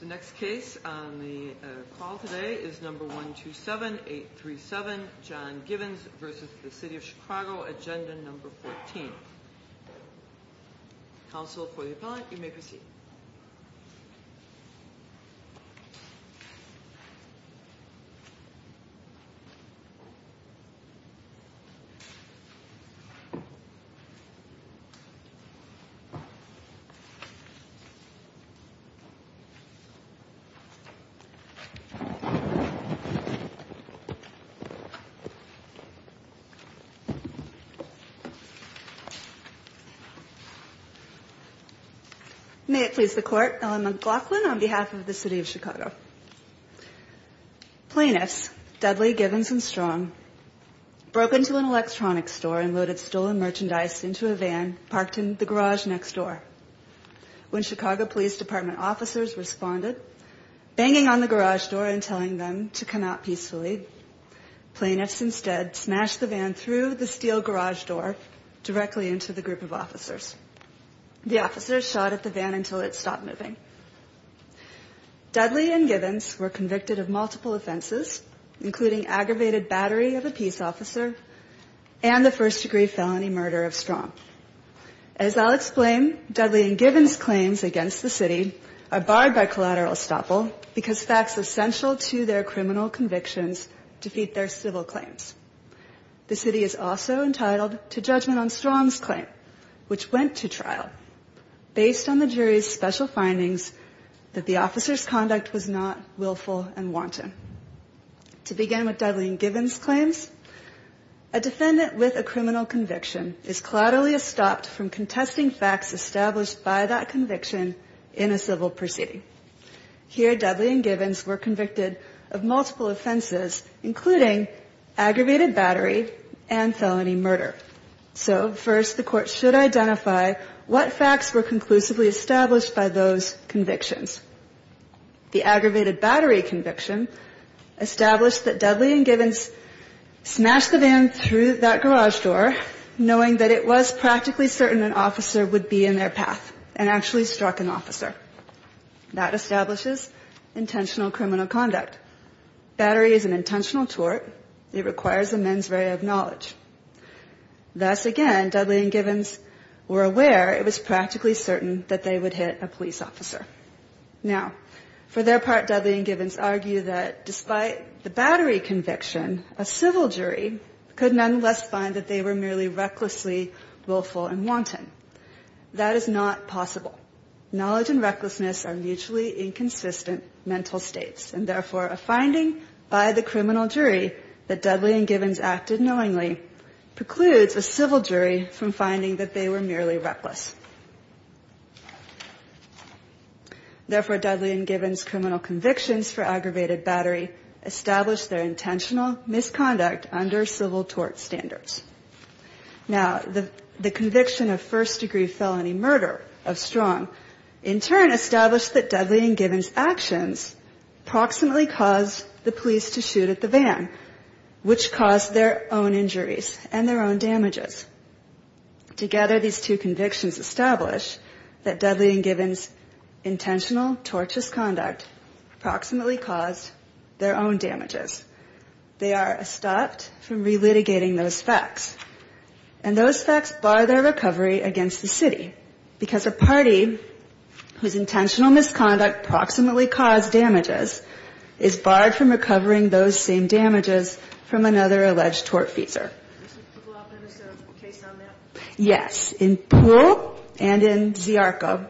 The next case on the call today is number 1 2 7 8 3 7 John Givens versus the City of Chicago agenda number 14. Council for the appellant you may proceed. May it please the court Ellen McLaughlin on behalf of the City of Chicago. Plaintiffs Dudley Givens and Strong broke into an electronics store and loaded stolen merchandise into a officers responded banging on the garage door and telling them to come out peacefully. Plaintiffs instead smashed the van through the steel garage door directly into the group of officers. The officers shot at the van until it stopped moving. Dudley and Givens were convicted of multiple offenses including aggravated battery of a peace officer and the first degree felony murder of Strong. As I'll explain Dudley and Givens claims against the city are barred by collateral estoppel because facts essential to their criminal convictions defeat their civil claims. The city is also entitled to judgment on Strong's claim which went to trial based on the jury's special findings that the officers conduct was not willful and wanton. To begin with Dudley and Givens claims a defendant with a criminal conviction is collaterally estopped from contesting facts established by that conviction in a civil proceeding. Here Dudley and Givens were convicted of multiple offenses including aggravated battery and felony murder. So first the court should identify what facts were conclusively established by those convictions. The aggravated battery conviction established that Dudley and Givens smashed the van through that garage door knowing that it was practically certain an officer would be in their path and actually struck an officer. That establishes intentional criminal conduct. Battery is an intentional tort. It requires a mens rea of knowledge. Thus again Dudley and Givens were it was practically certain that they would hit a police officer. Now for their part Dudley and Givens argue that despite the battery conviction a civil jury could nonetheless find that they were merely recklessly willful and wanton. That is not possible. Knowledge and recklessness are mutually inconsistent mental states and therefore a finding by the criminal jury that Dudley and Givens were reckless. Therefore Dudley and Givens' criminal convictions for aggravated battery established their intentional misconduct under civil tort standards. Now the conviction of first degree felony murder of Strong in turn established that Dudley and Givens' actions proximately caused the police to shoot at the van which caused their own injuries and their own damages. Together these two convictions establish that Dudley and Givens' intentional tortious conduct proximately caused their own damages. They are stopped from relitigating those facts. And those facts bar their recovery against the city because a party whose intentional misconduct proximately caused damages is barred from recovering those same damages from another alleged tortfeasor. Yes. In Poole and in Ziarko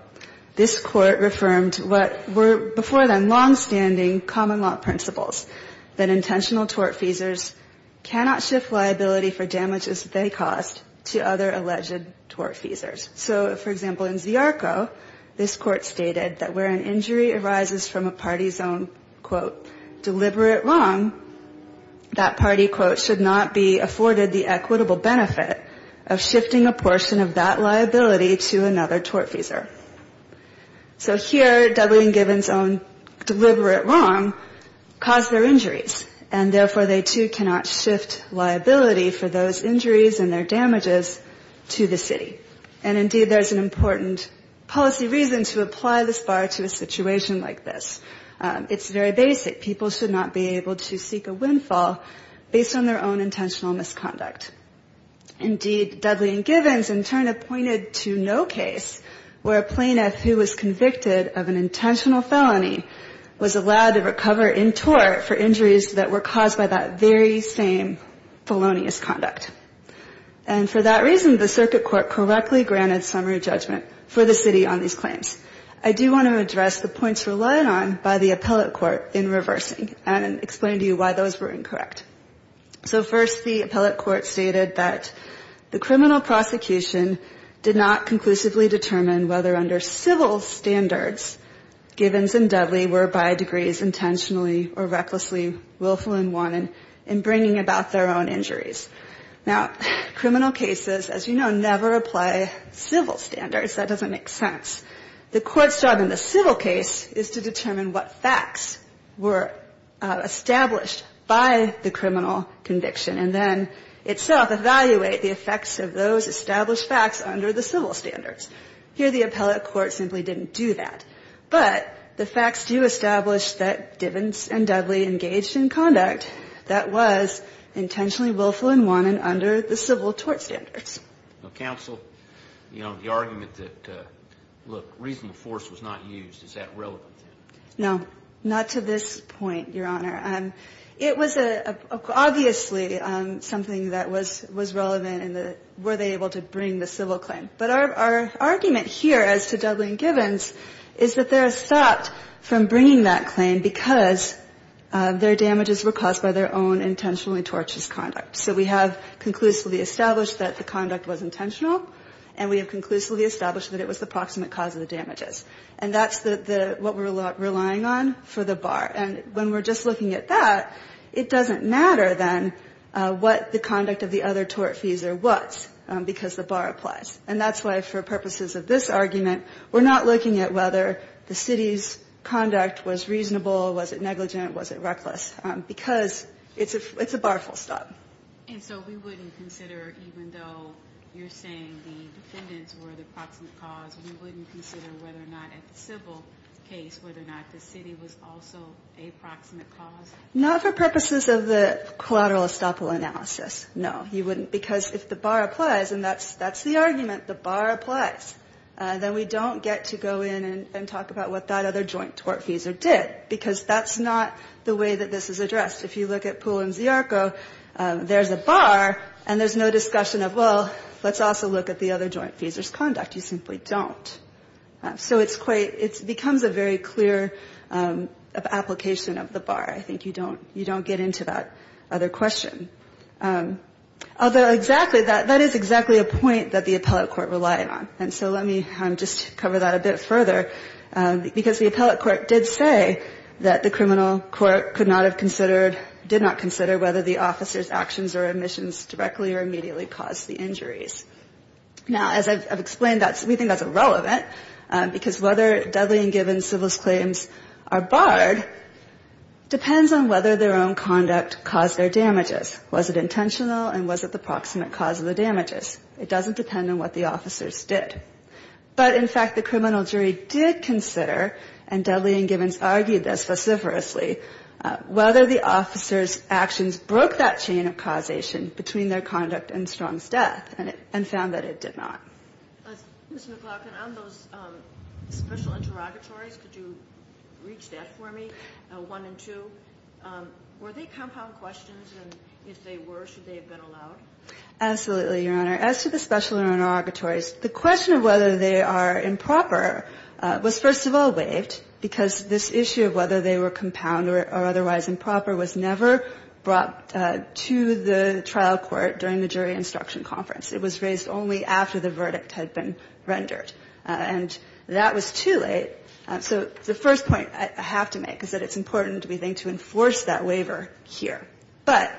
this Court reaffirmed what were before them long-standing common law principles that intentional tortfeasors cannot shift liability for damages they caused to other alleged tortfeasors. So for example in Ziarko this Court stated that where an injury arises from a party's own quote deliberate wrong that party quote should not be afforded the equitable benefit of shifting a portion of that liability to another tortfeasor. So here Dudley and Givens' own deliberate wrong caused their injuries and therefore they too cannot shift liability for those injuries and their damages to the city. And indeed there's an important policy reason to apply this bar to a situation like this. It's very basic. People should not be able to seek a windfall based on their own intentional misconduct. Indeed Dudley and Givens in turn appointed to no case where a plaintiff who was convicted of an intentional felony was allowed to recover in tort for injuries that were caused by that very same felonious conduct. And for that reason the address the points relied on by the appellate court in reversing and explain to you why those were incorrect. So first the appellate court stated that the criminal prosecution did not conclusively determine whether under civil standards Givens and Dudley were by degrees intentionally or recklessly willful and wanted in bringing about their own injuries. Now criminal cases as you know never apply civil standards. That doesn't make sense. The court's job in the civil case is to determine what facts were established by the criminal conviction and then itself evaluate the effects of those established facts under the civil standards. Here the appellate court simply didn't do that. But the facts do establish that Givens and Dudley engaged in conduct that was intentionally willful and wanted under the civil tort standards. Now counsel, you know the argument that look reasonable force was not used, is that relevant? No, not to this point your honor. It was obviously something that was relevant in the were they able to bring the civil claim. But our argument here as to Dudley and Givens is that their damages were caused by their own intentionally tortuous conduct. So we have conclusively established that the conduct was intentional and we have conclusively established that it was the proximate cause of the damages. And that's what we're relying on for the bar. And when we're just looking at that, it doesn't matter then what the conduct of the other tortfeasor was, because the bar applies. And that's why for purposes of this argument, we're not looking at whether the city's conduct was reasonable, was it negligent, was it reckless. Because it's a bar full stop. And so we wouldn't consider even though you're saying the defendants were the proximate cause, we wouldn't consider whether or not in the civil case, whether or not the city was also a proximate cause? Not for purposes of the collateral estoppel analysis, no. Because if the bar applies, and that's the argument, the bar applies, then we don't get to go in and talk about what that other joint tortfeasor did. Because that's not the way that this is addressed. If you look at Poole and Ziarko, there's a bar, and there's no discussion of, well, let's also look at the other joint feasor's conduct. You simply don't. So it's quite, it becomes a very clear application of the bar. I think you don't get into that other question. Although exactly, that is exactly a point that the appellate court relied on. And so let me just cover that a bit further. Because the appellate court did say that the criminal court could not have considered, did not consider whether the officer's actions or admissions directly or immediately caused the injuries. Now, as I've explained, that's, we think that's irrelevant. Because whether Dudley and Gibbons' civil claims are barred depends on whether their own conduct caused their damages. Was it intentional, and was it the proximate cause of the damages? It doesn't depend on what the officers did. But in fact, the criminal jury did consider, and Dudley and Gibbons argued this vociferously, whether the officers' actions broke that chain of causation between their conduct and Strong's death, and found that it did not. Ms. McLaughlin, on those special interrogatories, could you reach that for me, one and two? Were they compound questions? And if they were, should they have been allowed? Absolutely, Your Honor. As to the special interrogatories, the question of whether they are improper was first of all waived, because this issue of whether they were compound or otherwise improper was never brought to the trial court during the jury instruction conference. It was raised only after the verdict had been rendered. And that was too late. So the first point I have to make is that it's important, we think, to enforce that waiver here. But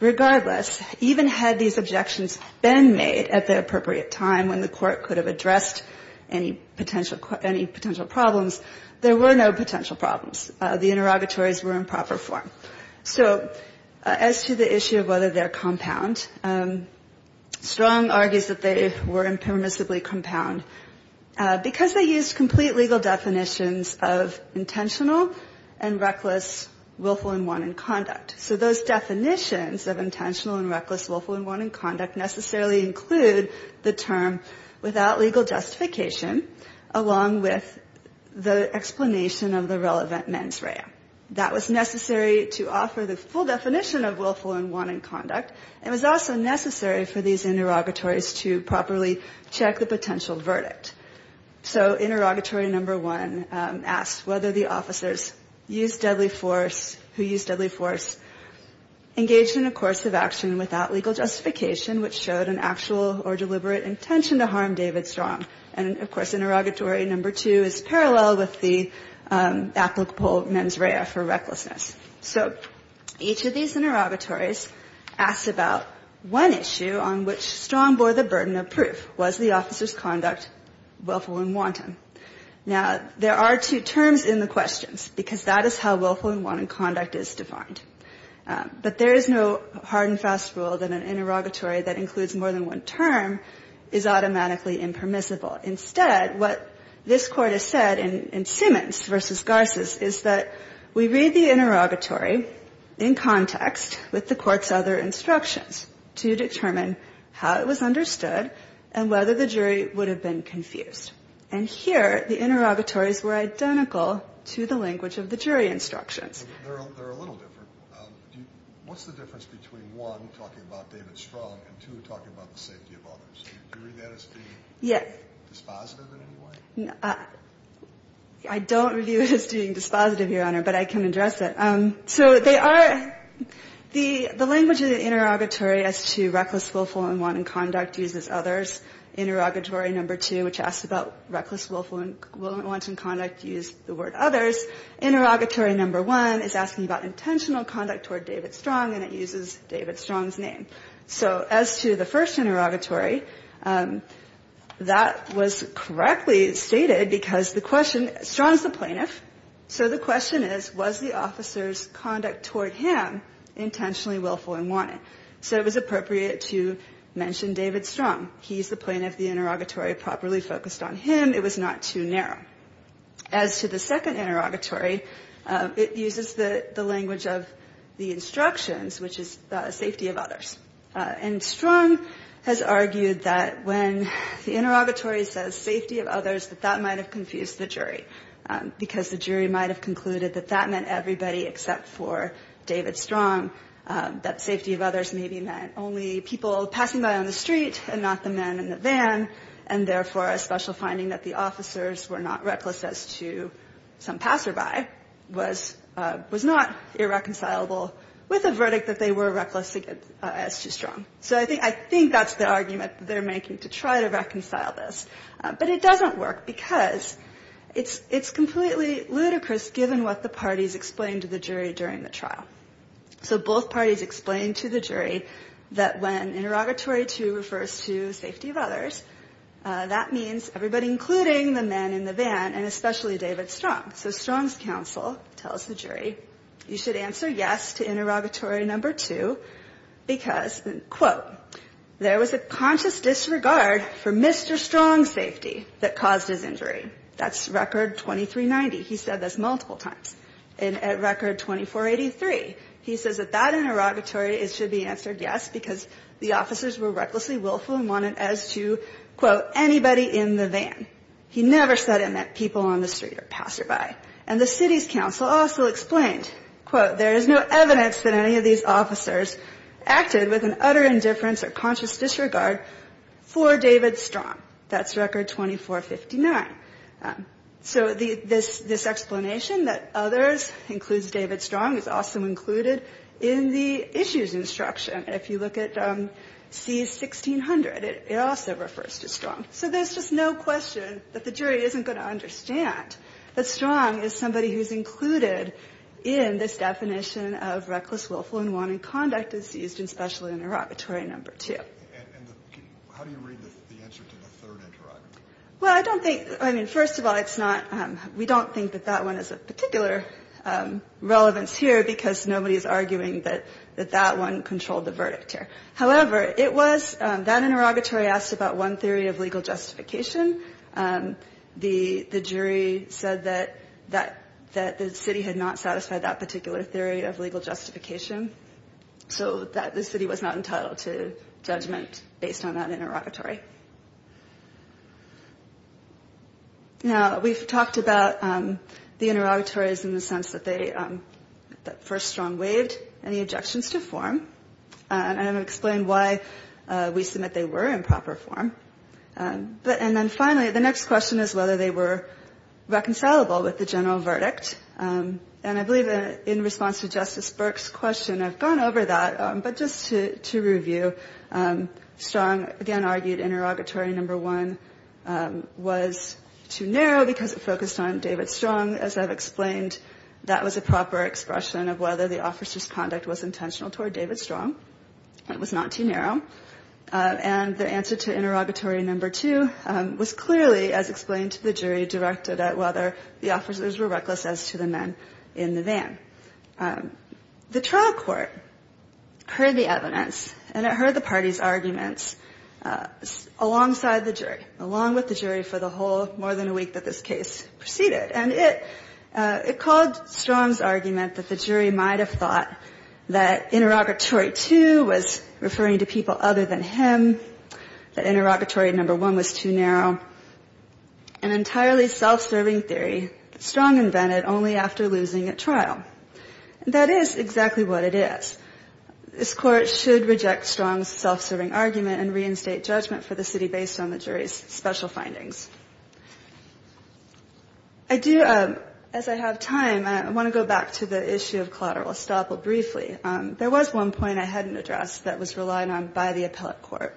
regardless, even had these objections been made at the appropriate time when the court could have addressed any potential problems, there were no potential problems. The interrogatories were in proper form. So as to the issue of whether they're compound, Strong argues that they were impermissibly compound, because they used complete legal definitions of intentional and reckless, willful and wanted conduct. So those definitions of intentional and reckless, willful and wanted conduct necessarily include the term without legal justification, along with the explanation of the relevant mens rea. That was necessary to offer the full definition of willful and wanted conduct. It was also necessary for these interrogatories to properly check the potential verdict. So interrogatory number one asks whether the officers who used deadly force engaged in a course of action without legal justification, which showed an actual or deliberate intention to harm David Strong. And of course, interrogatory number two is parallel with the applicable mens rea for recklessness. So each of these interrogatories asks about one issue on which Strong bore the burden of proof. Was the officer's conduct willful and wanted? Now, there are two terms in the questions, because that is how willful and wanted conduct is defined. But there is no hard and fast rule that an interrogatory that includes more than one term is automatically impermissible. Instead, what this Court has said in Simmons v. Garces is that we read the interrogatory in context with the Court's other instructions to determine how it was understood and whether the jury would have been confused. And here, the interrogatories were identical to the language of the jury instructions. They're a little different. What's the difference between, one, talking about David Strong, and two, talking about the safety of others? Do you read that as being dispositive in any way? I don't review it as being dispositive, Your Honor, but I can address it. So they are, the language of the interrogatory as to reckless, willful, and wanted conduct uses others. Interrogatory number two, which asks about reckless, willful, and wanted conduct, used the word others. Interrogatory number one is asking about intentional conduct toward David Strong, and it uses David Strong's name. So as to the first interrogatory, that was correctly stated because the question, Strong is the plaintiff, so the question is, was the officer's conduct toward him intentionally willful and wanted? So it was appropriate to mention David Strong. He's the plaintiff. The interrogatory properly focused on him. It was not too narrow. As to the second interrogatory, it uses the language of the instructions, which is the safety of others. And Strong has argued that when the interrogatory says safety of others, that that might have confused the jury, because the jury might have concluded that that meant everybody except for David Strong, that safety of others maybe meant only people passing by on the street and not the men in the van, and therefore a special finding that the officers were not reckless as to some passerby was not irreconcilable with a verdict that they were reckless as to Strong. So I think that's the argument they're making to try to reconcile this, but it doesn't work because it's completely ludicrous given what the parties explained to the jury during the trial. So both parties explained to the jury that when including the men in the van, and especially David Strong. So Strong's counsel tells the jury, you should answer yes to interrogatory number two, because, quote, there was a conscious disregard for Mr. Strong's safety that caused his injury. That's record 2390. He said this multiple times. And at record 2483, he says that that interrogatory should be answered yes, because the officers were He never said it meant people on the street or passerby. And the city's counsel also explained, quote, there is no evidence that any of these officers acted with an utter indifference or conscious disregard for David Strong. That's record 2459. So this explanation that others includes David Strong is also included in the issues instruction. If you look at C1600, it also refers to Strong. So there's just no question that the jury isn't going to understand that Strong is somebody who's included in this definition of reckless, willful, and wanting conduct is used in special interrogatory number two. And how do you read the answer to the third interrogatory? Well, I don't think, I mean, first of all, it's not, we don't think that that one is of particular relevance here, because nobody is arguing that that one controlled the verdict here. However, it was, that interrogatory asked about one theory of legal justification. The jury said that the city had not satisfied that particular theory of legal justification, so that the city was not entitled to judgment based on that interrogatory. Now, we've talked about the interrogatories in the sense that they, that first Strong waived any objections to form. And I've explained why we submit they were in proper form. But, and then finally, the next question is whether they were reconcilable with the general verdict. And I believe in response to Justice Burke's question, I've gone over that. But just to review, Strong, again, argued interrogatory number one was too narrow because it focused on David Strong. As I've explained, that was a proper expression of whether the officer's conduct was intentional toward David Strong. It was not too narrow. And the answer to interrogatory number two was clearly, as explained to the jury, directed at whether the officers were reckless as to the men in the van. The trial court heard the evidence, and it heard the parties' arguments alongside the jury, along with the jury for the whole more than a week that this case proceeded. And it, it called Strong's argument that the interrogatory two was referring to people other than him, that interrogatory number one was too narrow, an entirely self-serving theory that Strong invented only after losing a trial. That is exactly what it is. This court should reject Strong's self-serving argument and reinstate judgment for the city based on the jury's special findings. I do, as I have time, I want to go back to the issue of collateral estoppel briefly. There was one point I hadn't addressed that was relied on by the appellate court,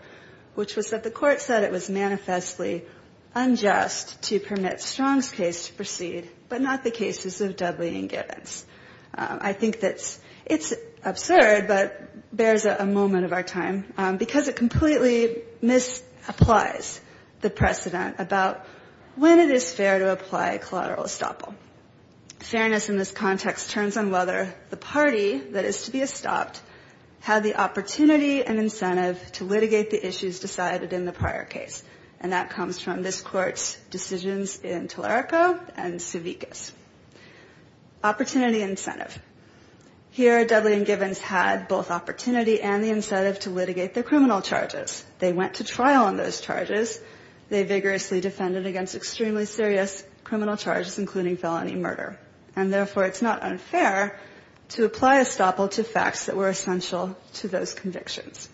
which was that the court said it was manifestly unjust to permit Strong's case to proceed, but not the cases of Dudley and Givens. I think that it's absurd, but bears a moment of our time, because it completely misapplies the precedent about when it is fair to apply collateral estoppel. Fairness in this context turns on whether the party that is to be estopped had the opportunity and incentive to litigate the issues decided in the prior case. And that comes from this court's decisions in Tularico and Savickas. Opportunity incentive. Here, Dudley and Givens had both opportunity and the incentive to litigate the criminal charges. They went to trial on those charges. They vigorously defended against extremely serious criminal charges, including felony murder. And therefore, it's not unfair to apply estoppel to facts that were essential to those convictions.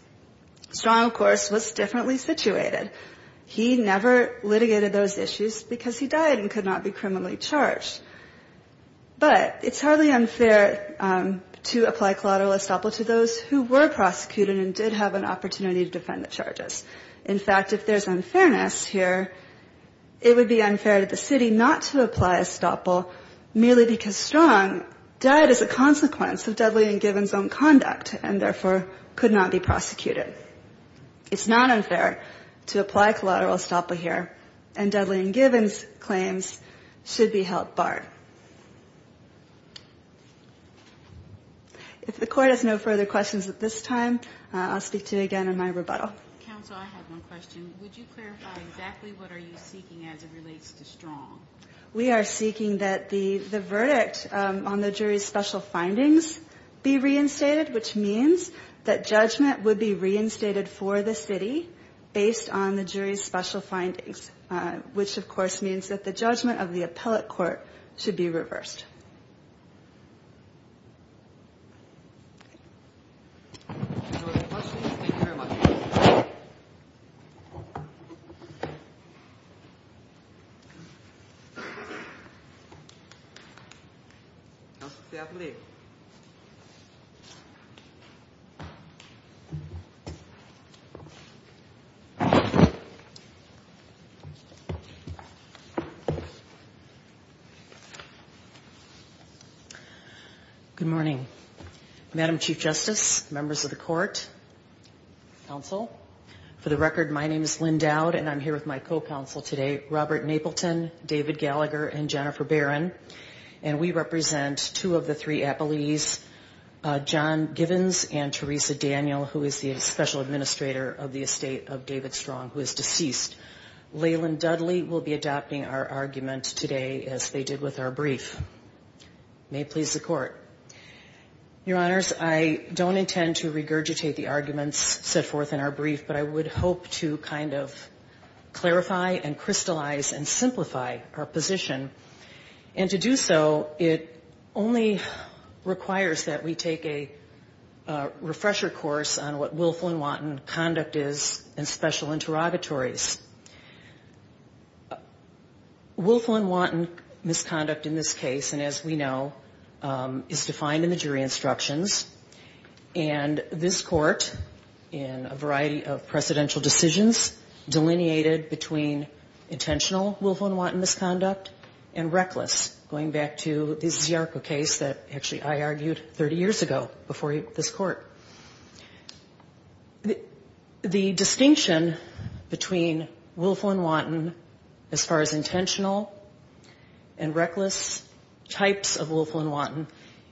Strong, of course, was differently situated. He never litigated those issues because he died and could not be criminally charged. But it's hardly unfair to apply collateral estoppel to those who were prosecuted and did have an opportunity to defend the charges. In fact, if there's unfairness here, it would be unfair to the city not to apply estoppel merely because Strong died as a consequence of Dudley and Givens' own conduct and therefore could not be prosecuted. It's not unfair to apply collateral estoppel here, and Dudley and Givens' claims should be held barred. If the Court has no further questions at this time, I'll speak to you again in my rebuttal. Counsel, I have one question. Would you clarify exactly what are you seeking as it relates to Strong? We are seeking that the verdict on the jury's special findings be reinstated, which means that judgment would be reinstated for the city based on the jury's special findings, which of course means that the judgment of the appellate court should be reversed. If there are no further questions, thank you very much. Good morning. Madam Chief Justice, members of the Court, counsel, for the record, my name is Lynn Dowd, and I'm here with my co-counsel today, Robert Napleton, David Gallagher, and Jennifer Barron, and we represent two of the three appellees, John Givens and Teresa Daniel, who is the special administrator of the estate of David Strong, who is deceased. Leland Dudley will be adopting our argument today as they did with our brief. May it please the Court. Your Honors, I don't intend to regurgitate the arguments set forth in our brief, but I would hope to kind of clarify and crystallize and simplify our position, and to do so, it only requires that we take a refresher course on what willful and wanton conduct is in special interrogatories. Willful and wanton misconduct in this case, and as we know, is defined in the jury instructions, and this Court, in a variety of precedential decisions, delineated between intentional willful and wanton misconduct and reckless, going back to this Ziarko case that actually I argued 30 years ago before this Court. The distinction between willful and wanton, as far as intentional and reckless types of willful and wanton,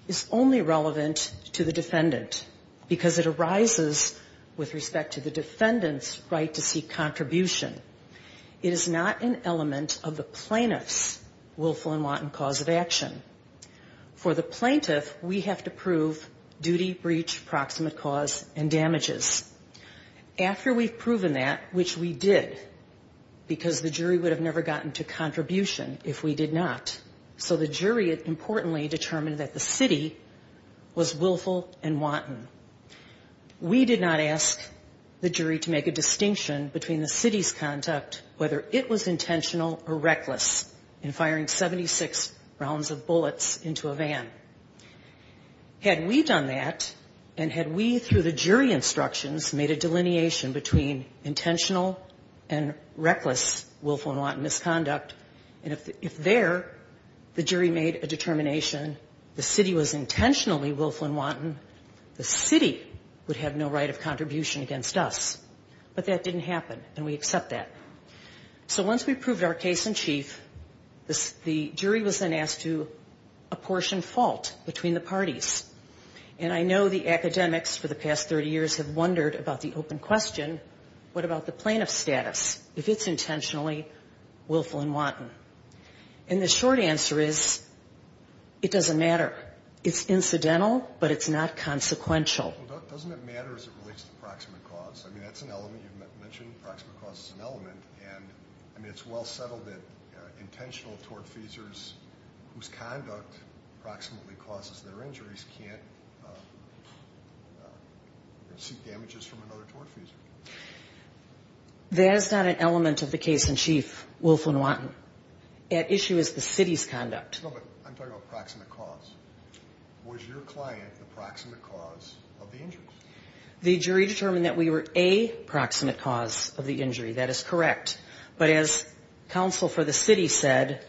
is only relevant to the defendant, because it arises with respect to the defendant's right to seek contribution. It is not an element of the plaintiff's willful and wanton cause of action. For the plaintiff, we have to prove duty, breach, proximate cause, and damages. After we've proven that, which we did, because the jury would have never gotten to contribution if we did not, so the jury, importantly, determined that the city was willful and wanton. We did not ask the jury to make a distinction between the city's willful and wanton misconduct, whether it was intentional or reckless, in firing 76 rounds of bullets into a van. Had we done that, and had we, through the jury instructions, made a delineation between intentional and reckless willful and wanton misconduct, and if there, the jury made a determination, the city was intentionally willful and wanton, the city would have no right of contribution against us. But that didn't happen, and we accept that. So once we've proved our case in chief, the jury was then asked to apportion fault between the parties. And I know the academics for the past 30 years have wondered about the open question, what about the plaintiff's status, if it's intentionally willful and wanton? And the short answer is, it doesn't matter. It's incidental, but it's not consequential. Q Doesn't it matter as it relates to proximate cause? I mean, that's an element. You mentioned proximate cause is an element, and it's well settled that intentional tortfeasors whose conduct proximately causes their injuries can't receive damages from another tortfeasor. A That is not an element of the case in chief, willful and wanton. At issue is the city's conduct. Q No, but I'm talking about proximate cause. Was your client the proximate cause of the injuries? A The jury determined that we were a proximate cause of the injury. That is correct. But as counsel for the city said,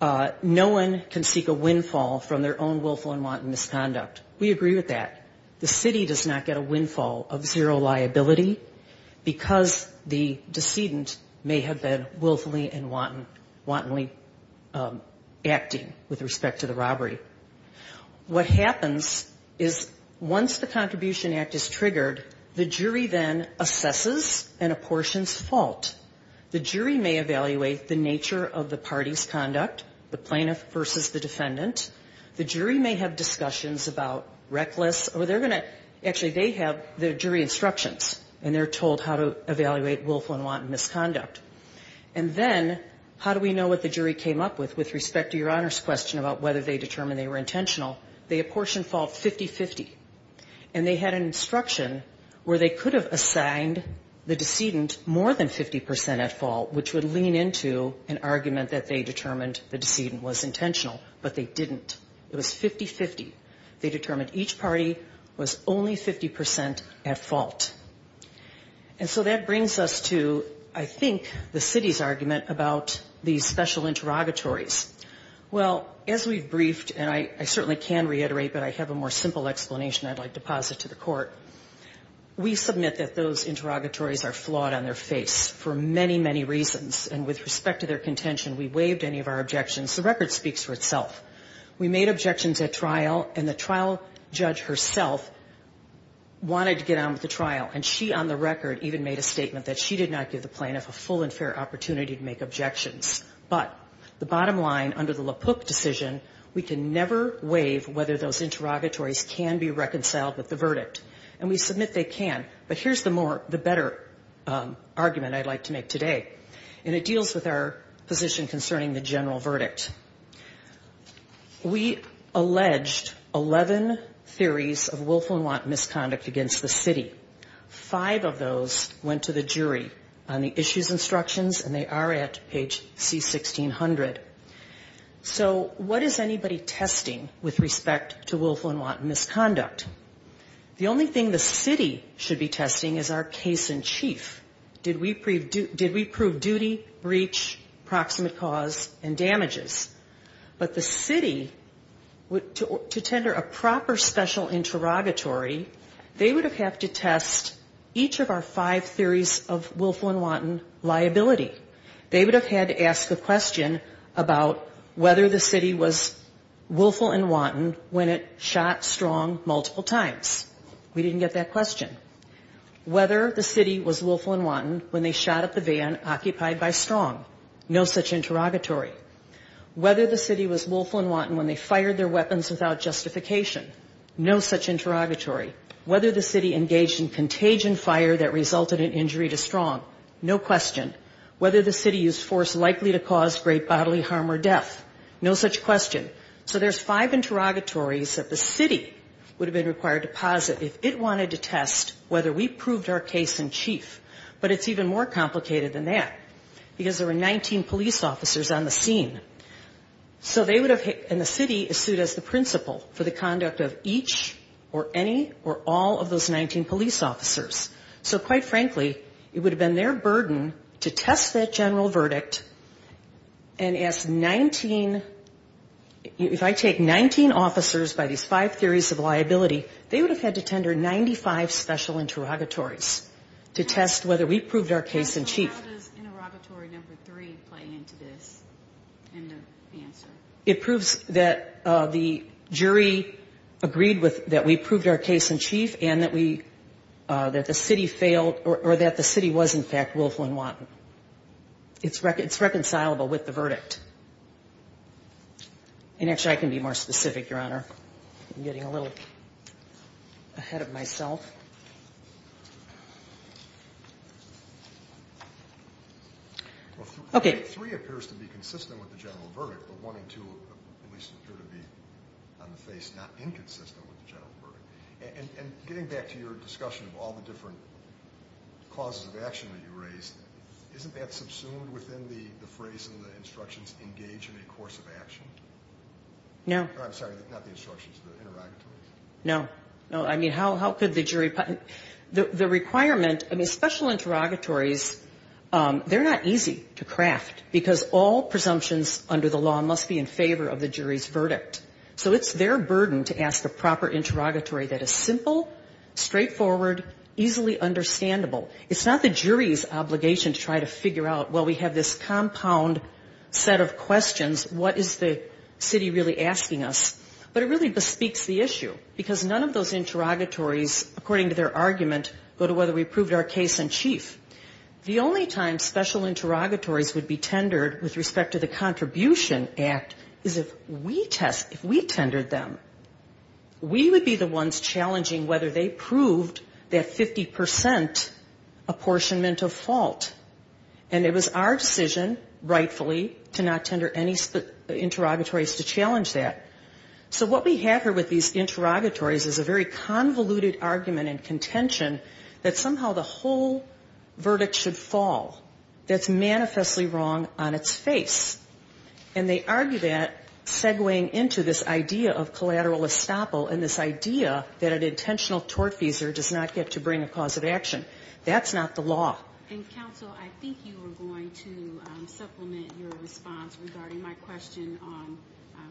no one can seek a windfall from their own willful and wanton liability, because the decedent may have been willfully and wantonly acting with respect to the robbery. What happens is once the contribution act is triggered, the jury then assesses an apportion's fault. The jury may evaluate the nature of the party's conduct, the plaintiff versus the defendant. The jury may have discussions about reckless, or they're going to, actually, they have the jury instructions, and they're told how to evaluate willful and wanton misconduct. And then how do we know what the jury came up with with respect to your Honor's question about whether they determined they were intentional? They apportioned fault 50-50. And they had an instruction where they could have assigned the decedent more than 50 percent at fault, which would lean into an argument that they determined the decedent was intentional, but they didn't. It was 50-50. They determined each party was only 50 percent at fault. And so that brings us to, I think, the city's argument about these special interrogatories. Well, as we've briefed, and I certainly can reiterate, but I have a more simple explanation I'd like to posit to the court. We submit that those interrogatories are flawed on their face for many, many reasons. And with respect to their contention, we waived any of our objections. The record speaks for itself. We made objections at trial, and the trial judge herself wanted to get on with the trial. And she, on the record, even made a statement that she did not give the plaintiff a full and fair opportunity to make objections. But the bottom line, under the LaPook decision, we can never waive whether those interrogatories can be reconciled with the verdict. And we submit they can. But here's the more, the better argument I'd like to make today. And it deals with our position concerning the general verdict. We alleged 11 theories of willful and want misconduct against the city. Five of those went to the jury on the issues instructions, and they are at page C1600. So what is anybody testing with respect to willful and wanton misconduct? The only thing the city should be testing is our case in chief. Did we prove duty, breach, proximate cause, and damages? But the city, to tender a proper special interrogatory, they would have had to test each of our five theories of willful and wanton liability. They would have had to ask the question about whether the city was willful and wanton when it shot strong multiple times. We didn't get that question. Whether the city was willful and wanton when they shot at the van occupied by strong, no such interrogatory. Whether the city was willful and wanton when they fired their weapons without justification, no such interrogatory. Whether the city engaged in contagion fire that resulted in injury to strong, no question. Whether the city used force likely to cause great bodily harm or death, no such question. So there's five interrogatories that the city would have been required to posit if it wanted to test whether we proved our case in chief. But it's even more complicated than that, because there were 19 police officers on the scene. So they would have hit, and the city is sued as the principal for the conduct of each or any or all of those 19 police officers. So quite frankly, it would have been their burden to test that general verdict and ask 19, if I take 19 officers by these five theories of liability, they would have had to tender 95 special interrogatories to test whether we proved our case in chief. How does interrogatory number three play into this? It proves that the jury agreed with that we proved our case in chief and that we, that the city failed or that the city was in fact willful and wanton. It's reconcilable with the verdict. And actually, I can be more specific, Your Honor. I'm getting a little ahead of myself. Okay. And getting back to your discussion of all the different causes of action that you raised, isn't that subsumed within the phrase in the instructions, engage in a course of action? No. No. I mean, how could the jury, the requirement, I mean, special interrogatories, they're not easy to craft, because all presumptions under the law must be in favor of the jury's verdict. So it's their burden to ask the proper interrogatory that is simple, straightforward, easily understandable. It's not the jury's obligation to try to figure out, well, we have this compound set of questions. What is the city really asking us? But it really bespeaks the issue, because none of those interrogatories, according to their argument, go to whether we proved our case in chief. The only time special interrogatories would be tendered with respect to the Contribution Act is if we test, if we tendered them. We would be the ones challenging whether they proved that 50 percent apportionment of fault. And it was our decision, rightfully, to not tender any interrogatories to challenge that. So what we have here with these interrogatories is a very convoluted argument and contention that somehow the whole verdict should fall. That's manifestly wrong on its face. And they argue that, segwaying into this idea of collateral estoppel and this idea that an intentional tortfeasor does not get to bring a cause of action. That's not the law. And, counsel, I think you were going to supplement your response regarding my question on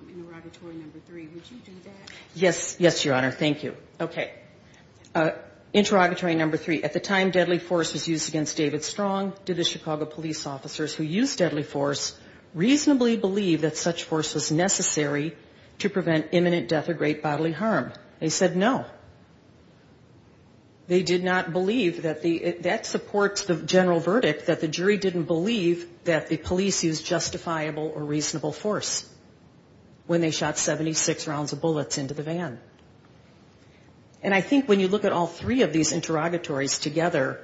interrogatory number three. Would you do that? Yes. Yes, Your Honor. Thank you. Okay. Interrogatory number three. At the time deadly force was used against David Strong, did the Chicago police officers who used deadly force reasonably believe that such force was necessary to prevent imminent death or great bodily harm? They said no. They did not believe that the, that supports the general verdict that the jury didn't believe that the police used justifiable or reasonable force when they shot 76 rounds of bullets into the van. And I think when you look at all three of these interrogatories together,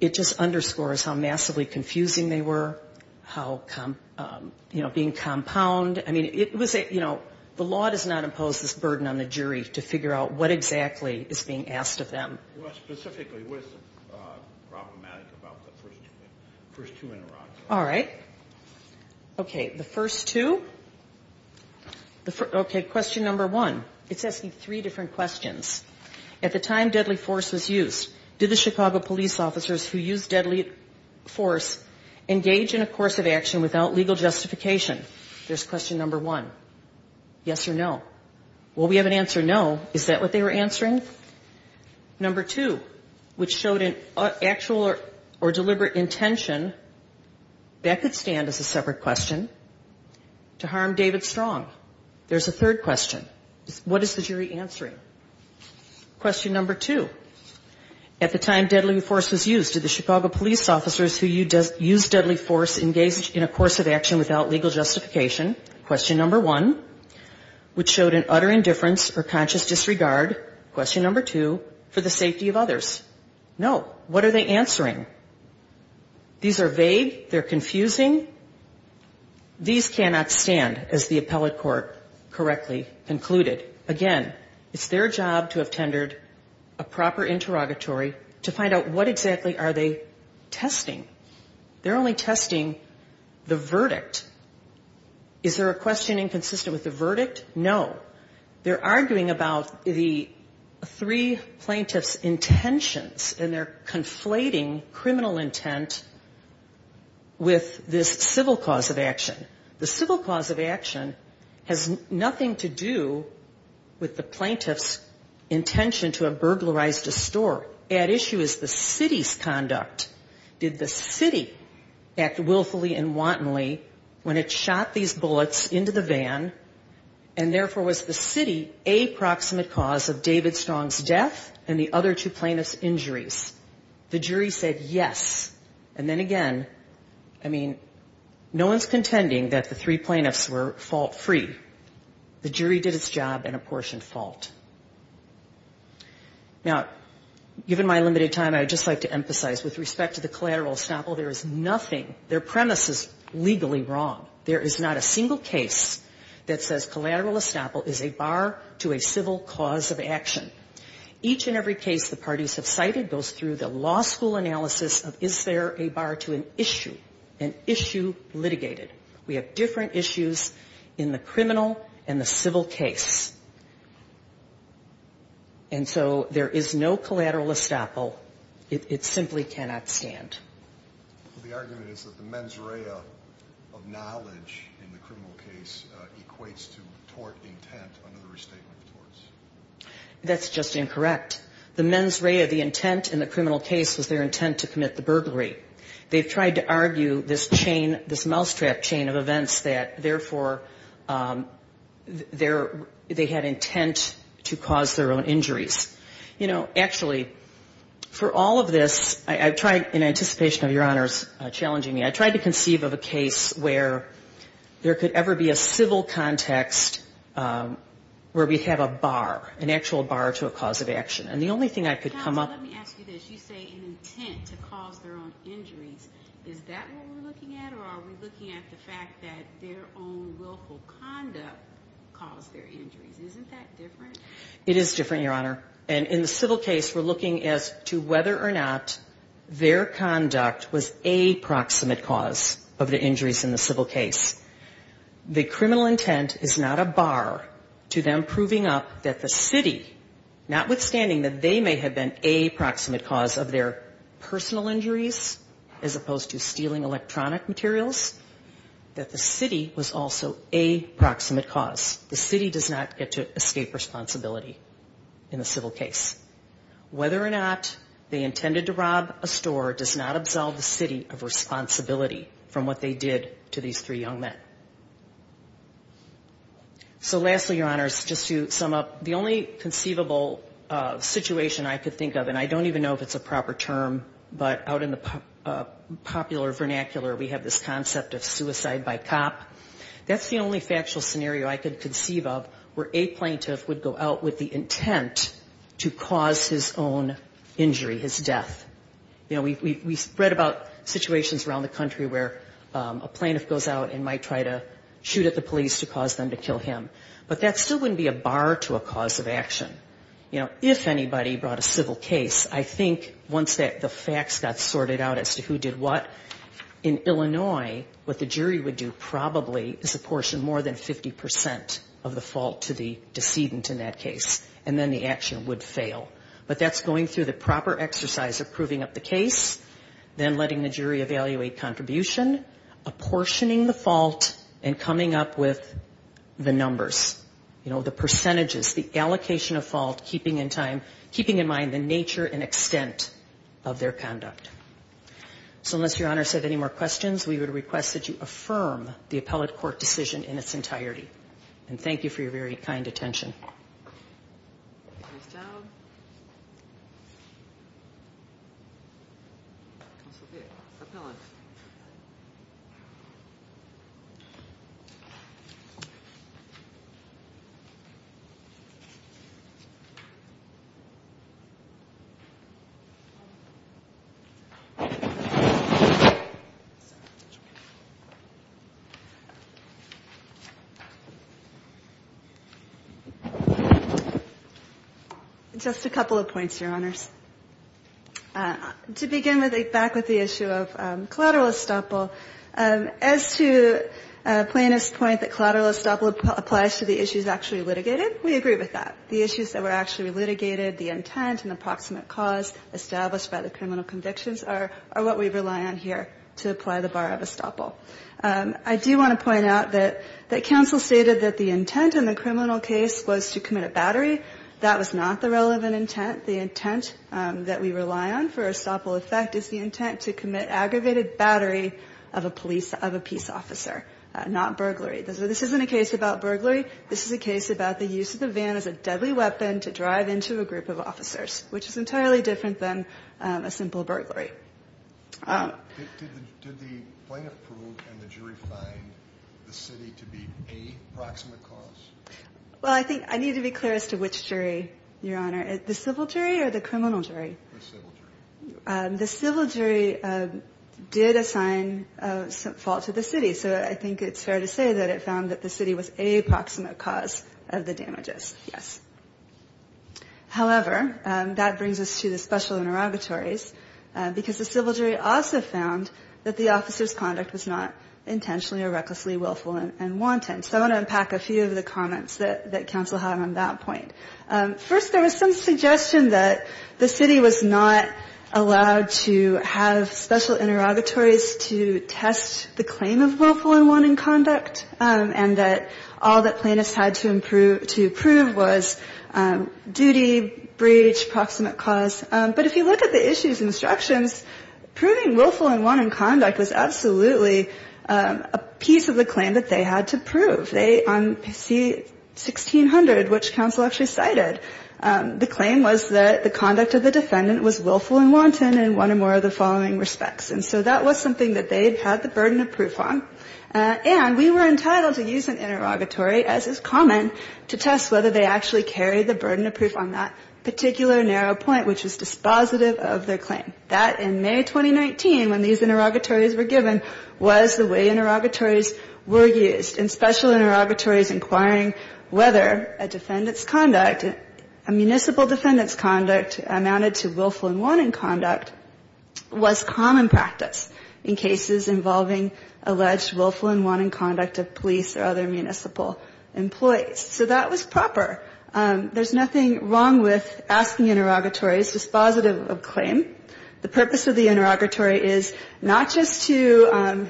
it just underscores how massively confusing they were, how, you know, being compound. I mean, it was a, you know, the law does not impose this burden on the jury to figure out what exactly is being asked of them. Well, specifically, what is problematic about the first two interrogations? All right. Okay. The first two. Okay. Question number one. It's asking three different questions. At the time deadly force was used, did the Chicago police officers who used deadly force engage in a course of action without legal justification? Question number one. Did the Chicago police officers who used deadly force engage in a course of action without legal justification? Question number two. Which showed an actual or deliberate intention, that could stand as a separate question, to harm David Strong? There's a third question. What is the jury answering? Question number two. At the time deadly force was used, did the Chicago police officers who used deadly force engage in a course of action without legal justification? Question number one. Which showed an utter indifference or conscious disregard? Question number two. For the safety of others? No. What are they answering? These are vague. They're confusing. These cannot stand, as the appellate court correctly concluded. Again, it's their job to have tendered a proper interrogatory to find out what exactly are they testing. They're only testing the verdict. Is there a questioning consistent with the verdict? No. They're arguing about the three plaintiff's intentions, and they're conflating criminal intent with this civil cause of action. The civil cause of action has nothing to do with the plaintiff's intention to have burglarized a store. At issue is the city's conduct. Did the city act willfully and wantonly when it shot these bullets into the van, and therefore was the city a proximate cause of David Strong's death and the other two plaintiff's injuries? The jury said yes. And then again, I mean, no one's contending that the three plaintiffs were fault-free. The jury did its job and apportioned fault. Now, given my limited time, I'd just like to emphasize with respect to the collateral estoppel, there is nothing, their premise is legally wrong. There is not a single case that says collateral estoppel is a bar to a civil cause of action. Each and every case the parties have cited goes through the law school analysis of is there a bar to a civil cause of action? We have an issue, an issue litigated. We have different issues in the criminal and the civil case. And so there is no collateral estoppel. It simply cannot stand. The argument is that the mens rea of knowledge in the criminal case equates to tort intent under the restatement of torts. That's just incorrect. The mens rea of the intent in the criminal case was their intent to commit the burglary. They've tried to argue this chain, this mousetrap chain of events that therefore their, they had intent to cause their own injuries. You know, actually, for all of this, I've tried in anticipation of your honors challenging me, I've tried to conceive of a case where there could ever be a civil context where we have a bar. An actual bar to a cause of action. And the only thing I could come up with... Let me ask you this. You say an intent to cause their own injuries. Is that what we're looking at? Or are we looking at the fact that their own willful conduct caused their injuries? Isn't that different? It is different, your honor. And in the civil case, we're looking as to whether or not their conduct was a proximate cause of the injuries in the civil case. The criminal intent is not a bar to them proving up that they had an intent to rob a store. The city, notwithstanding that they may have been a proximate cause of their personal injuries, as opposed to stealing electronic materials, that the city was also a proximate cause. The city does not get to escape responsibility in the civil case. Whether or not they intended to rob a store does not absolve the city of responsibility from what they did to these three young men. So lastly, your honors, just to sum up, the only conceivable situation I could think of, and I don't even know if it's a proper term, but out in the popular vernacular we have this concept of suicide by cop. That's the only factual scenario I could conceive of where a plaintiff would go out with the intent to cause his own injury, his death. You know, we've read about situations around the country where a plaintiff goes out and might try to rob a store. Try to shoot at the police to cause them to kill him. But that still wouldn't be a bar to a cause of action. You know, if anybody brought a civil case, I think once the facts got sorted out as to who did what, in Illinois, what the jury would do probably is apportion more than 50% of the fault to the decedent in that case, and then the action would fail. But that's going through the proper exercise of proving up the case, then letting the jury evaluate contribution, apportioning the fault, and coming up with the numbers. You know, the percentages, the allocation of fault, keeping in mind the nature and extent of their conduct. So unless your honors have any more questions, we would request that you affirm the appellate court decision in its entirety. And thank you for your very kind attention. Thank you. Just a couple of points, Your Honors. To begin back with the issue of the fact that the defendant's intent was to commit a collateral estoppel, as to Plano's point that collateral estoppel applies to the issues actually litigated, we agree with that. The issues that were actually litigated, the intent and the proximate cause established by the criminal convictions are what we rely on here to apply the bar of estoppel. I do want to point out that counsel stated that the intent in the criminal case was to commit a battery. That was not the relevant intent. The intent that we rely on for estoppel effect is the intent to commit aggravated battery of a police, of a peace officer, not burglary. This isn't a case about burglary. This is a case about the use of the van as a deadly weapon to drive into a group of officers, which is entirely different than a simple burglary. Well, I think I need to be clear as to which jury, Your Honor. The civil jury or the criminal jury? The civil jury did assign a fault to the city. So I think it's fair to say that it found that the city was a proximate cause of the damages, yes. However, that brings us to the special interrogatories, because the civil jury also found that the officer's conduct was not intentionally or recklessly willful and wanton. So I want to unpack a few of the comments that were made by the civil jury. The civil jury was not allowed to have special interrogatories to test the claim of willful and wanton conduct, and that all that plaintiffs had to prove was duty, breach, proximate cause. But if you look at the issues and instructions, proving willful and wanton conduct was absolutely a piece of the claim that they had to prove. They, on C-1600, which counsel actually cited, the claim was that the conduct of the defendant was willful and wanton in one or more of the following respects. And so that was something that they had the burden of proof on. And we were entitled to use an interrogatory, as is common, to test whether they actually carried the burden of proof on that particular narrow point, which was dispositive of their claim. That, in May 2019, when these interrogatories were given, was the way interrogatories were used. In special interrogatories inquiring whether a defendant's willful and wanton conduct was common practice in cases involving alleged willful and wanton conduct of police or other municipal employees. So that was proper. There's nothing wrong with asking interrogatories dispositive of claim. The purpose of the interrogatory is not just to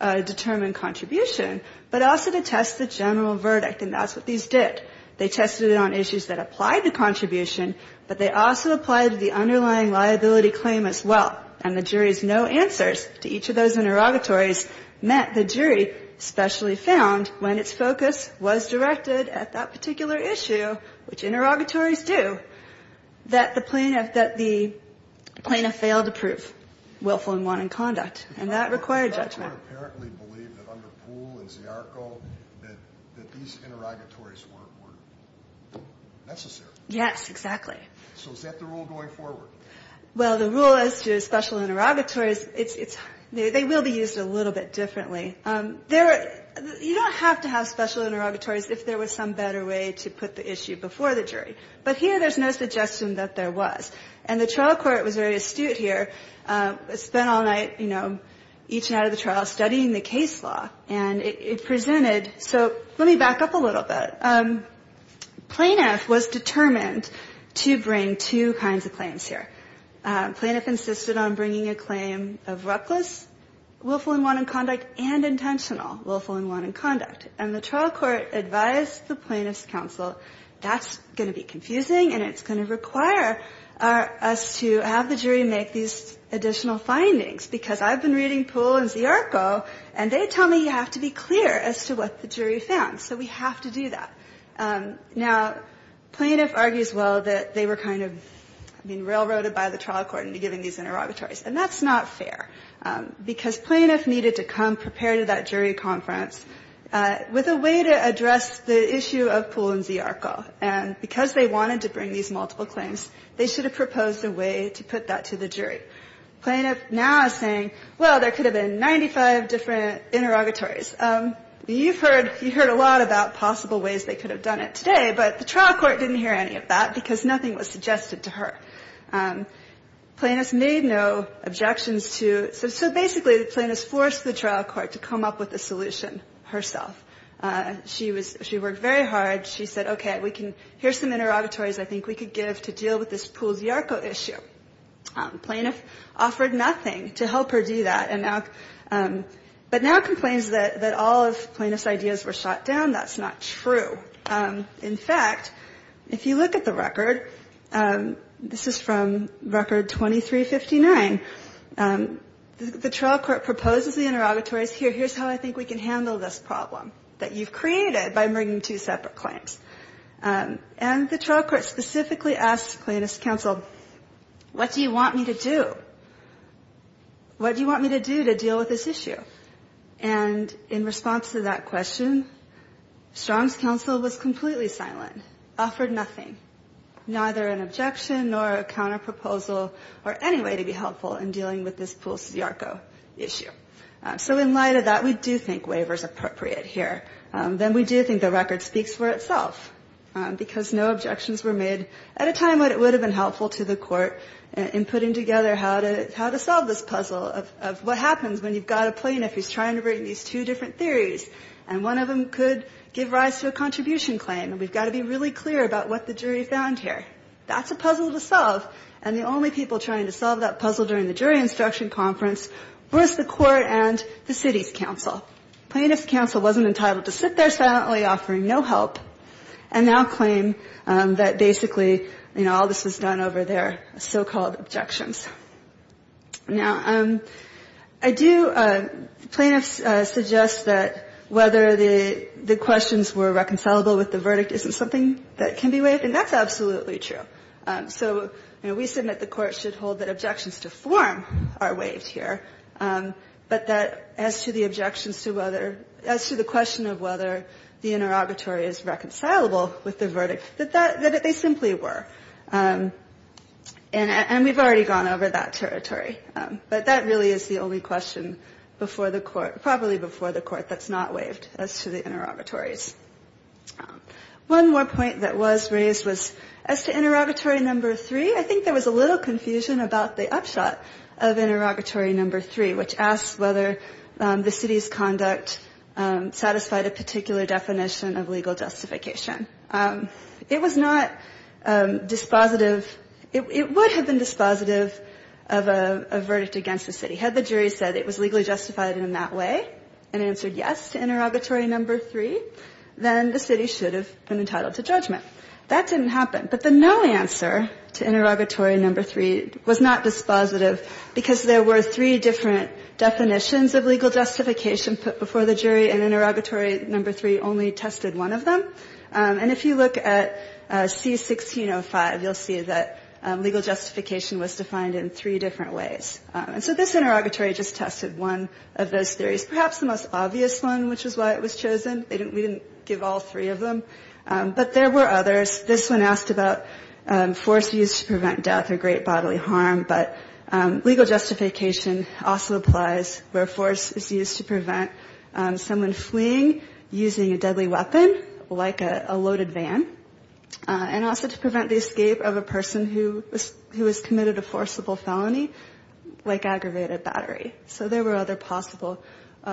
determine contribution, but also to test the general verdict. And that's what these did. They tested it on issues that applied to contribution, but they also applied to the underlying liability claim as well. And the jury's no answers to each of those interrogatories meant the jury especially found, when its focus was directed at that particular issue, which interrogatories do, that the plaintiff, that the plaintiff failed to prove willful and wanton conduct. And that required judgment. The court apparently believed that under Poole and Ziarko that these interrogatories were necessary. Yes, exactly. So is that the rule going forward? Well, the rule as to special interrogatories, they will be used a little bit differently. You don't have to have special interrogatories if there was some better way to put the issue before the jury. But here there's no suggestion that there was. And the trial court was very astute here. It spent all night, you know, each night of the trial studying the case law. And it presented, so let me back up a little bit. Plaintiff was determined to prove willful and wanton conduct. And we bring two kinds of claims here. Plaintiff insisted on bringing a claim of reckless willful and wanton conduct and intentional willful and wanton conduct. And the trial court advised the plaintiff's counsel, that's going to be confusing and it's going to require us to have the jury make these additional findings, because I've been reading Poole and Ziarko and they tell me you have to be clear as to what the jury found. So we have to do that. Now, plaintiff argues, well, that they were kind of, I mean, railroaded by the trial court into giving these interrogatories. And that's not fair, because plaintiff needed to come prepared to that jury conference with a way to address the issue of Poole and Ziarko. And because they wanted to bring these multiple claims, they should have proposed a way to put that to the jury. Plaintiff now is saying, well, there could have been 95 different interrogatories. You've heard a lot about possible ways they could have done it today, but the trial court didn't hear any of that, because nothing was suggested to her. Plaintiff made no objections to, so basically the plaintiff forced the trial court to come up with a solution herself. She worked very hard. She said, okay, we can, here's some interrogatories I think we could give to deal with this Poole and Ziarko issue. Plaintiff offered nothing to help her do that. But now complains that all of plaintiff's ideas were shot down. That's not true. In fact, if you look at the record, this is from record 2359, the trial court proposes the interrogatories, here, here's how I think we can handle this problem that you've created by bringing two separate claims. And the trial court specifically asks plaintiff's counsel, what do you want me to do? What do you want me to do to deal with this issue? And in response to that question, Strong's counsel was completely silent, offered nothing, neither an objection nor a counterproposal or any way to be helpful in dealing with this Poole-Ziarko issue. So in light of that, we do think waiver is appropriate here. Then we do think the record speaks for itself, because no objections were made at a time when it would have been helpful to deal with the issue in the court in putting together how to solve this puzzle of what happens when you've got a plaintiff who's trying to bring these two different theories, and one of them could give rise to a contribution claim. And we've got to be really clear about what the jury found here. That's a puzzle to solve. And the only people trying to solve that puzzle during the jury instruction conference was the court and the city's counsel. Plaintiff's counsel wasn't entitled to sit there silently offering no help, and now claim that basically, you know, all this was done over their heads. And the jury was not entitled to sit there and make their so-called objections. Now, I do, plaintiffs suggest that whether the questions were reconcilable with the verdict isn't something that can be waived, and that's absolutely true. So, you know, we submit the Court should hold that objections to form are waived here, but that as to the objections to whether, as to the question of whether the interrogatory is reconcilable with the verdict, that they simply were. And we've already gone over that territory. But that really is the only question before the Court, probably before the Court, that's not waived as to the interrogatories. One more point that was raised was as to interrogatory number three, I think there was a little confusion about the upshot of interrogatory number three, which asked whether the city's conduct satisfied a particular definition of legal justification. It was not dispositive, it would have been dispositive of a verdict against the city. Had the jury said it was legally justified in that way, and answered yes to interrogatory number three, then the city should have been entitled to judgment. That didn't happen. But the no answer to interrogatory number three was not dispositive, because there were three different definitions of legal justification put before the jury, and interrogatory number three only tested one of them. And if you look at C-1605, you'll see that legal justification was defined in three different ways. And so this interrogatory just tested one of those theories, perhaps the most obvious one, which is why it was chosen. We didn't give all three of them. But there were others. This one asked about force used to prevent death or great bodily harm, but legal justification also applies where force is used to prevent someone fleeing from a prison using a deadly weapon, like a loaded van, and also to prevent the escape of a person who has committed a forcible felony, like aggravated battery. So there were other possible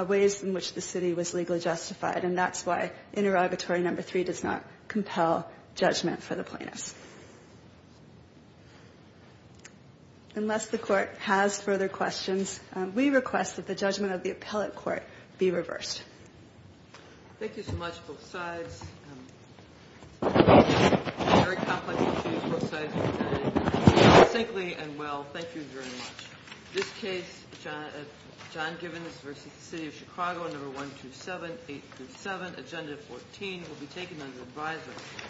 ways in which the city was legally justified, and that's why interrogatory number three does not compel judgment for the plaintiffs. Unless the court has further questions, we request that the judgment of the appellate court be reversed. Thank you so much, both sides. Very complex issues. Both sides have done it succinctly and well. Thank you very much. This case, John Givens v. The City of Chicago, number 127-837, agenda 14, will be taken under advisory.